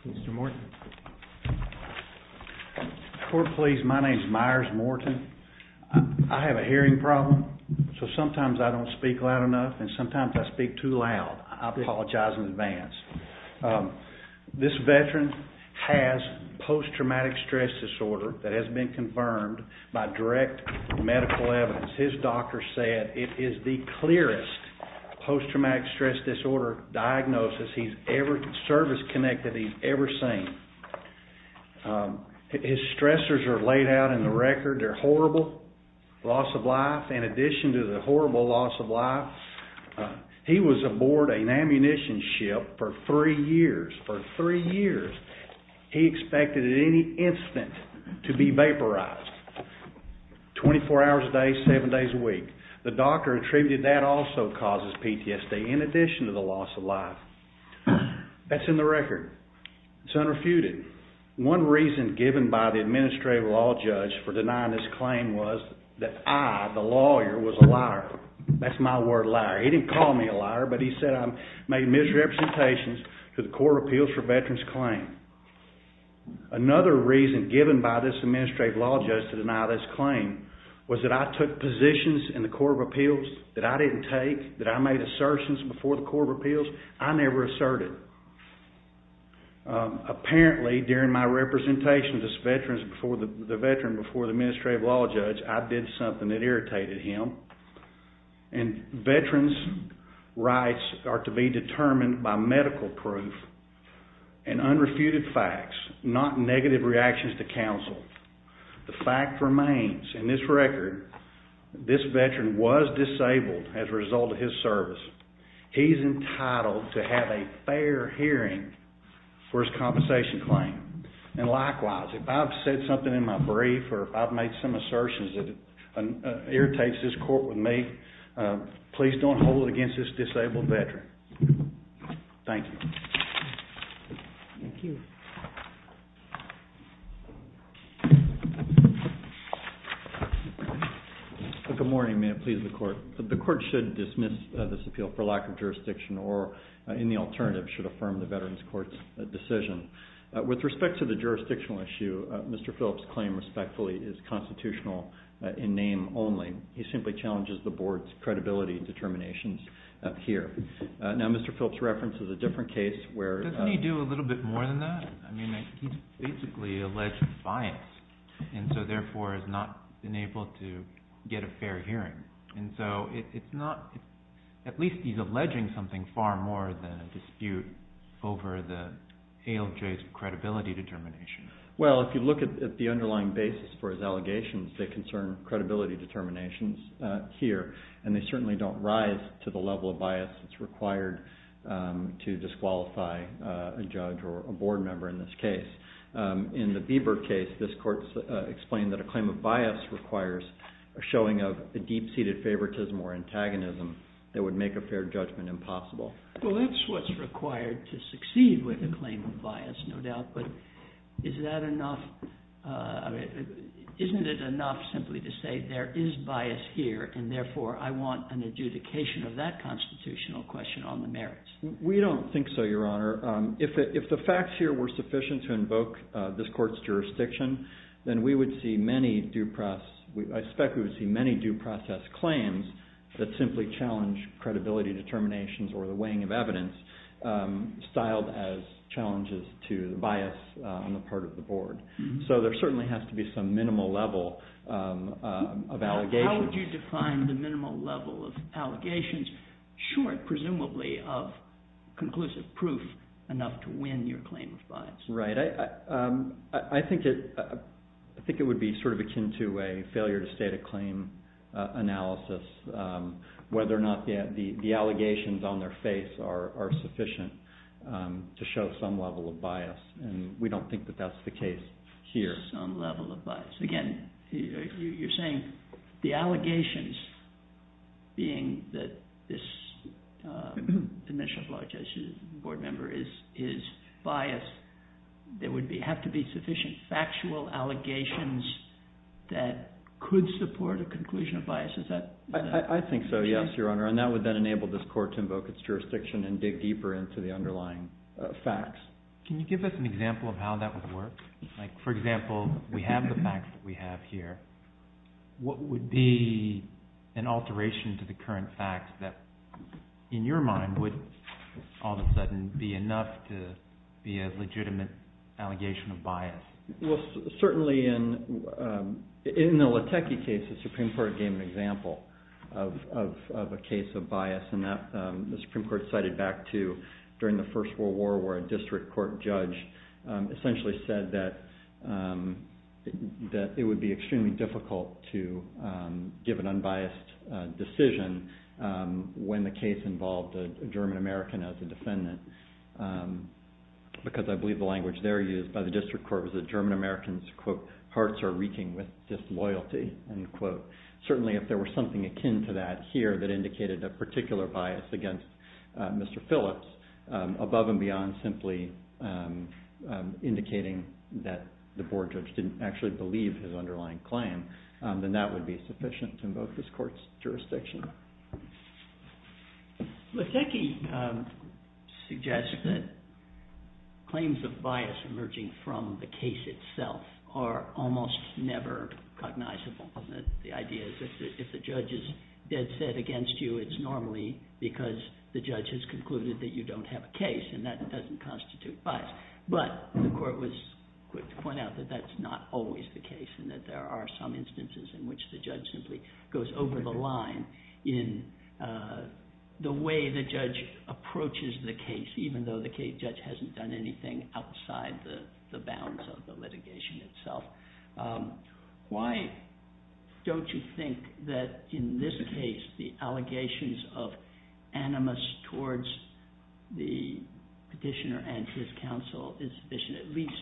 Mr. Morton, I have a hearing problem, so sometimes I don't speak loud enough and sometimes I speak too loud. I apologize in advance. This veteran has post-traumatic stress disorder that has been confirmed by direct medical evidence. His doctor said it is the clearest post-traumatic stress disorder diagnosis he's ever, service connected he's ever seen. His stressors are laid out in the record, they're horrible, loss of life, in addition to the horrible loss of life, he was aboard an ammunition ship for three years. For three years, he expected at any instant to be vaporized, 24 hours a day, seven days a week. The doctor attributed that also causes PTSD, in addition to the loss of life. That's in the record, it's unrefuted. One reason given by the administrative law judge for denying this claim was that I, the lawyer, was a liar. That's my word, liar. He didn't call me a liar, but he said I made misrepresentations to the Court of Appeals for Veterans Claim. Another reason given by this administrative law judge to deny this claim was that I took positions in the Court of Appeals that I didn't take, that I made assertions before the Court of Appeals, I never asserted. Apparently, during my representation as a veteran before the administrative law judge, I did something that irritated him, and veterans' rights are to be determined by medical proof and unrefuted facts, not negative reactions to counsel. The fact remains, in this record, this veteran was disabled as a result of his service. He's entitled to have a fair hearing for his compensation claim, and likewise, if I've said something in my brief, or if I've made some assertions that irritates this court with me, please don't hold it against this disabled veteran. Thank you. Thank you. Good morning, ma'am. Please, the Court. The Court should dismiss this appeal for lack of jurisdiction, or any alternative should affirm the Veterans Court's decision. With respect to the jurisdictional issue, Mr. Phillips' claim, respectfully, is constitutional in name only. He simply challenges the Board's credibility determinations up here. Now, Mr. Phillips' reference is a different case where- Doesn't he do a little bit more than that? I mean, he's basically alleged bias, and so therefore has not been able to get a fair hearing, and so it's not, at least he's alleging something far more than a dispute over the credibility determination. Well, if you look at the underlying basis for his allegations, they concern credibility determinations here, and they certainly don't rise to the level of bias that's required to disqualify a judge or a Board member in this case. In the Bieber case, this court's explained that a claim of bias requires a showing of a deep-seated favoritism or antagonism that would make a fair judgment impossible. Well, that's what's required to succeed with a claim of bias, no doubt, but isn't it enough simply to say there is bias here, and therefore I want an adjudication of that constitutional question on the merits? We don't think so, Your Honor. If the facts here were sufficient to invoke this court's jurisdiction, then we would see many due process- I expect we would see many due process claims that simply challenge credibility determinations or the weighing of evidence, styled as challenges to the bias on the part of the Board. So, there certainly has to be some minimal level of allegation. How would you define the minimal level of allegations, short, presumably, of conclusive proof enough to win your claim of bias? Right. I think it would be sort of akin to a failure-to-state-a-claim analysis, whether or not the allegations on their face are sufficient to show some level of bias, and we don't think that that's the case here. Some level of bias. Again, you're saying the allegations, being that this Administrative Law Justice Board member is biased, there would have to be sufficient factual allegations that could support a conclusion of bias. Is that correct? I think so, yes, Your Honor. And that would then enable this Court to invoke its jurisdiction and dig deeper into the underlying facts. Can you give us an example of how that would work? Like, for example, we have the facts that we have here. What would be an alteration to the current facts that, in your mind, would all of a sudden be enough to be a legitimate allegation of bias? Well, certainly in the Latecky case, the Supreme Court gave an example of a case of bias, and the Supreme Court cited back to during the First World War, where a district court judge essentially said that it would be extremely difficult to give an unbiased decision when the case involved a German-American as a defendant, because I believe the language there used by the district court was that German-Americans, quote, hearts are reeking with disloyalty, end quote. Certainly, if there were something akin to that here that indicated a particular bias against Mr. Phillips, above and beyond simply indicating that the board judge didn't actually believe his underlying claim, then that would be sufficient to invoke this Court's jurisdiction. Latecky suggests that claims of bias emerging from the case itself are almost never cognizable. The idea is that if the judge is dead set against you, it's normally because the judge has concluded that you don't have a case, and that doesn't constitute bias. But the Court was quick to point out that that's not always the case, and that there are some instances in which the judge simply goes over the line in the way the judge approaches the case, even though the judge hasn't done anything outside the bounds of the litigation itself. Why don't you think that in this case, the allegations of animus towards the petitioner and his counsel is sufficient at least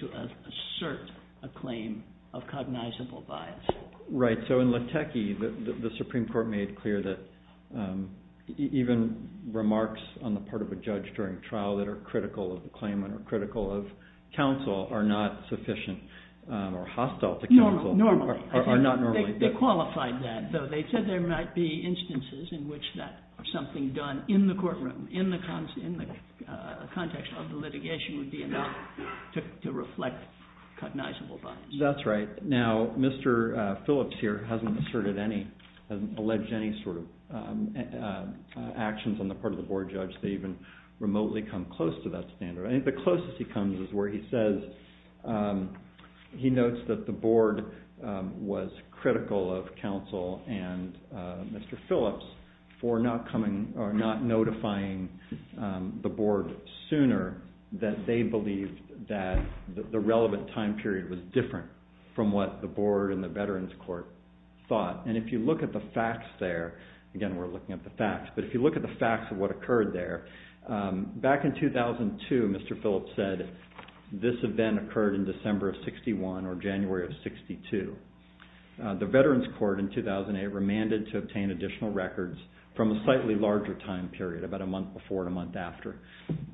to assert a claim of cognizable bias? Right. So in Latecky, the Supreme Court made clear that even remarks on the part of a judge during trial that are critical of the claimant or critical of counsel are not sufficient or hostile to counsel. Normally. They qualified that. So they said there might be instances in which something done in the courtroom, in the context of the litigation, would be enough to reflect cognizable bias. That's right. Now, Mr. Phillips here hasn't asserted any, alleged any sort of actions on the part of the board judge that even remotely come close to that standard. I think the closest he comes is where he says, he notes that the board was critical of counsel, and Mr. Phillips, for not coming, or not notifying the board sooner that they believed that the relevant time period was different from what the board and the Veterans Court thought. And if you look at the facts there, again, we're looking at the facts, but if you look at the facts of what occurred there, back in 2002, Mr. Phillips said, this event occurred in December of 61 or January of 62. The Veterans Court in 2008 remanded to obtain additional records from a slightly larger time period, about a month before and a month after.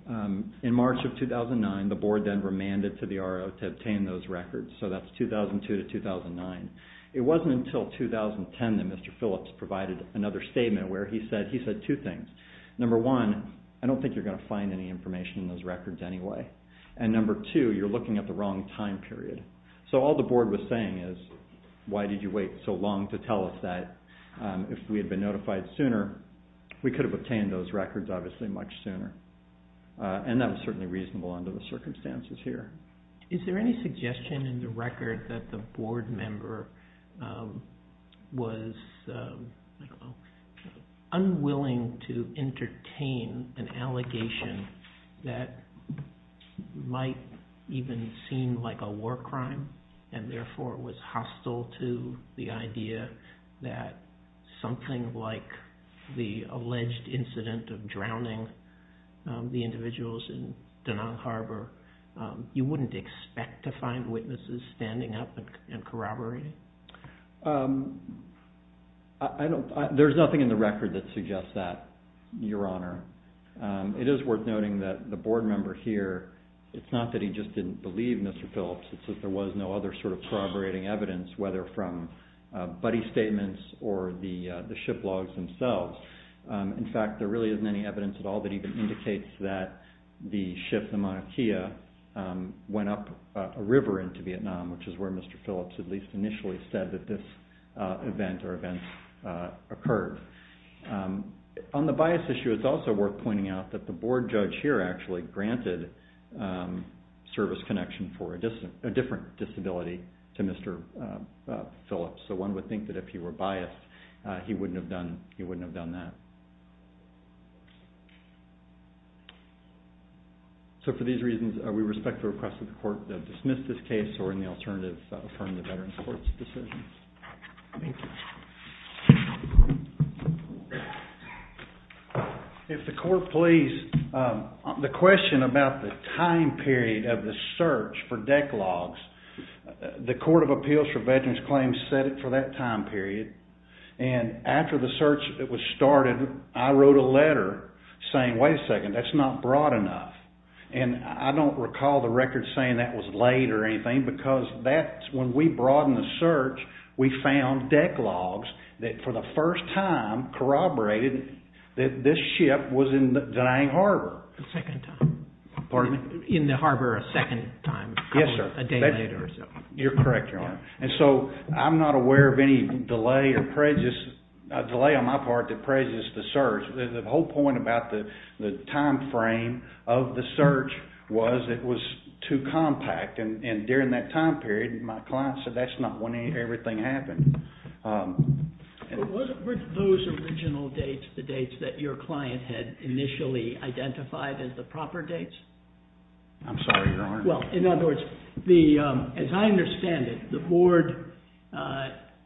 In March of 2009, the board then remanded to the RO to obtain those records. So that's 2002 to 2009. It wasn't until 2010 that Mr. Phillips provided another statement where he said, he said two things. Number one, I don't think you're going to find any information in those records anyway. And number two, you're looking at the wrong time period. So all the board was saying is, why did you wait so long to tell us that if we had been notified sooner, we could have obtained those records obviously much sooner. And that was certainly reasonable under the circumstances here. Is there any suggestion in the record that the board member was unwilling to entertain an allegation that might even seem like a war crime and therefore was hostile to the idea that something like the alleged incident of drowning the individuals in Danone Harbor, you wouldn't expect to find witnesses standing up and corroborating? There's nothing in the record that suggests that, Your Honor. It is worth noting that the board member here, it's not that he just didn't believe Mr. Phillips, it's that there was no other sort of corroborating evidence, whether from buddy statements or the ship logs themselves. In fact, there really isn't any evidence at all that even indicates that the ship, the actually said that this event or events occurred. On the bias issue, it's also worth pointing out that the board judge here actually granted service connection for a different disability to Mr. Phillips. So one would think that if he were biased, he wouldn't have done that. So for these reasons, we respect the request of the court to dismiss this case or in the Veterans Court's decision. If the court please, the question about the time period of the search for deck logs, the Court of Appeals for Veterans Claims set it for that time period. And after the search was started, I wrote a letter saying, wait a second, that's not broad enough. And I don't recall the record saying that was late or anything because that's when we broadened the search, we found deck logs that for the first time corroborated that this ship was in the Danang Harbor. The second time. Pardon me? In the harbor a second time. Yes, sir. A day later or so. You're correct, Your Honor. And so I'm not aware of any delay or prejudice, a delay on my part that prejudiced the search. The whole point about the time frame of the search was it was too compact. And during that time period, my client said that's not when everything happened. Were those original dates the dates that your client had initially identified as the proper dates? I'm sorry, Your Honor. Well, in other words, as I understand it, the board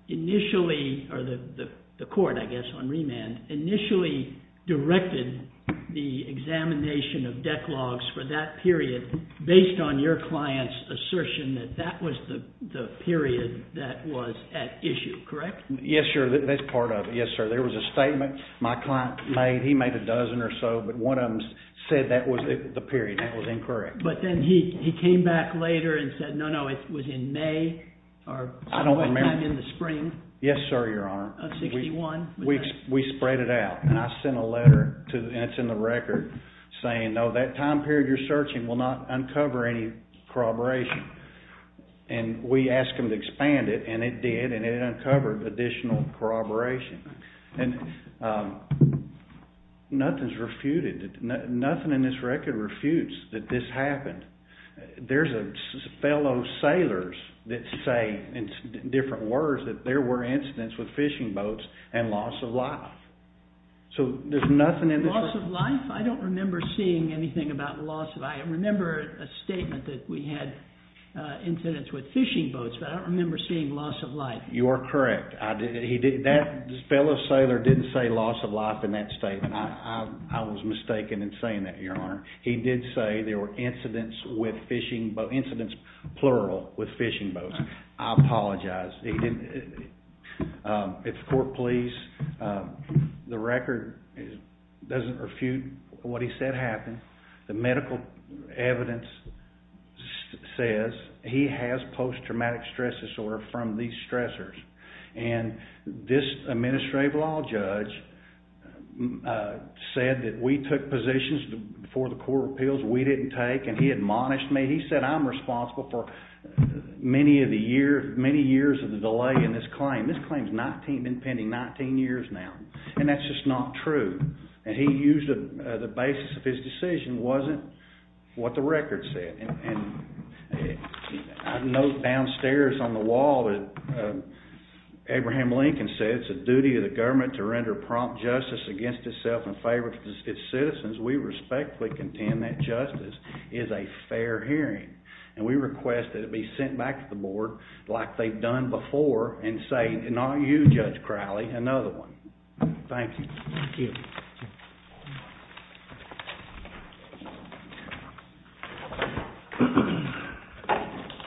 initially, or the court, I guess, on remand, initially directed the examination of deck logs for that period based on your client's assertion that that was the period that was at issue, correct? Yes, sir. That's part of it. Yes, sir. There was a statement my client made. He made a dozen or so, but one of them said that was the period. That was incorrect. But then he came back later and said, no, no, it was in May or sometime in the spring? Yes, sir, Your Honor. Of 61? We spread it out. And I sent a letter, and it's in the record, saying, no, that time period you're searching will not uncover any corroboration. And we asked them to expand it, and it did, and it uncovered additional corroboration. And nothing's refuted. Nothing in this record refutes that this happened. There's fellow sailors that say, in different words, that there were incidents with fishing boats and loss of life. So there's nothing in this record. Loss of life? I don't remember seeing anything about loss of life. I remember a statement that we had incidents with fishing boats, but I don't remember seeing loss of life. You are correct. That fellow sailor didn't say loss of life in that statement. I was mistaken in saying that, Your Honor. He did say there were incidents with fishing boats, incidents, plural, with fishing boats. I apologize. If the court please, the record doesn't refute what he said happened. The medical evidence says he has post-traumatic stress disorder from these stressors. And this administrative law judge said that we took positions before the court of appeals we didn't take, and he admonished me. He said I'm responsible for many years of the delay in this claim. This claim's been pending 19 years now, and that's just not true. And he used the basis of his decision wasn't what the record said. I note downstairs on the wall that Abraham Lincoln said it's the duty of the government to render prompt justice against itself in favor of its citizens. We respectfully contend that justice is a fair hearing. And we request that it be sent back to the board like they've done before and say, not you, Judge Crowley, another one. Thank you. Thank you. Thank you.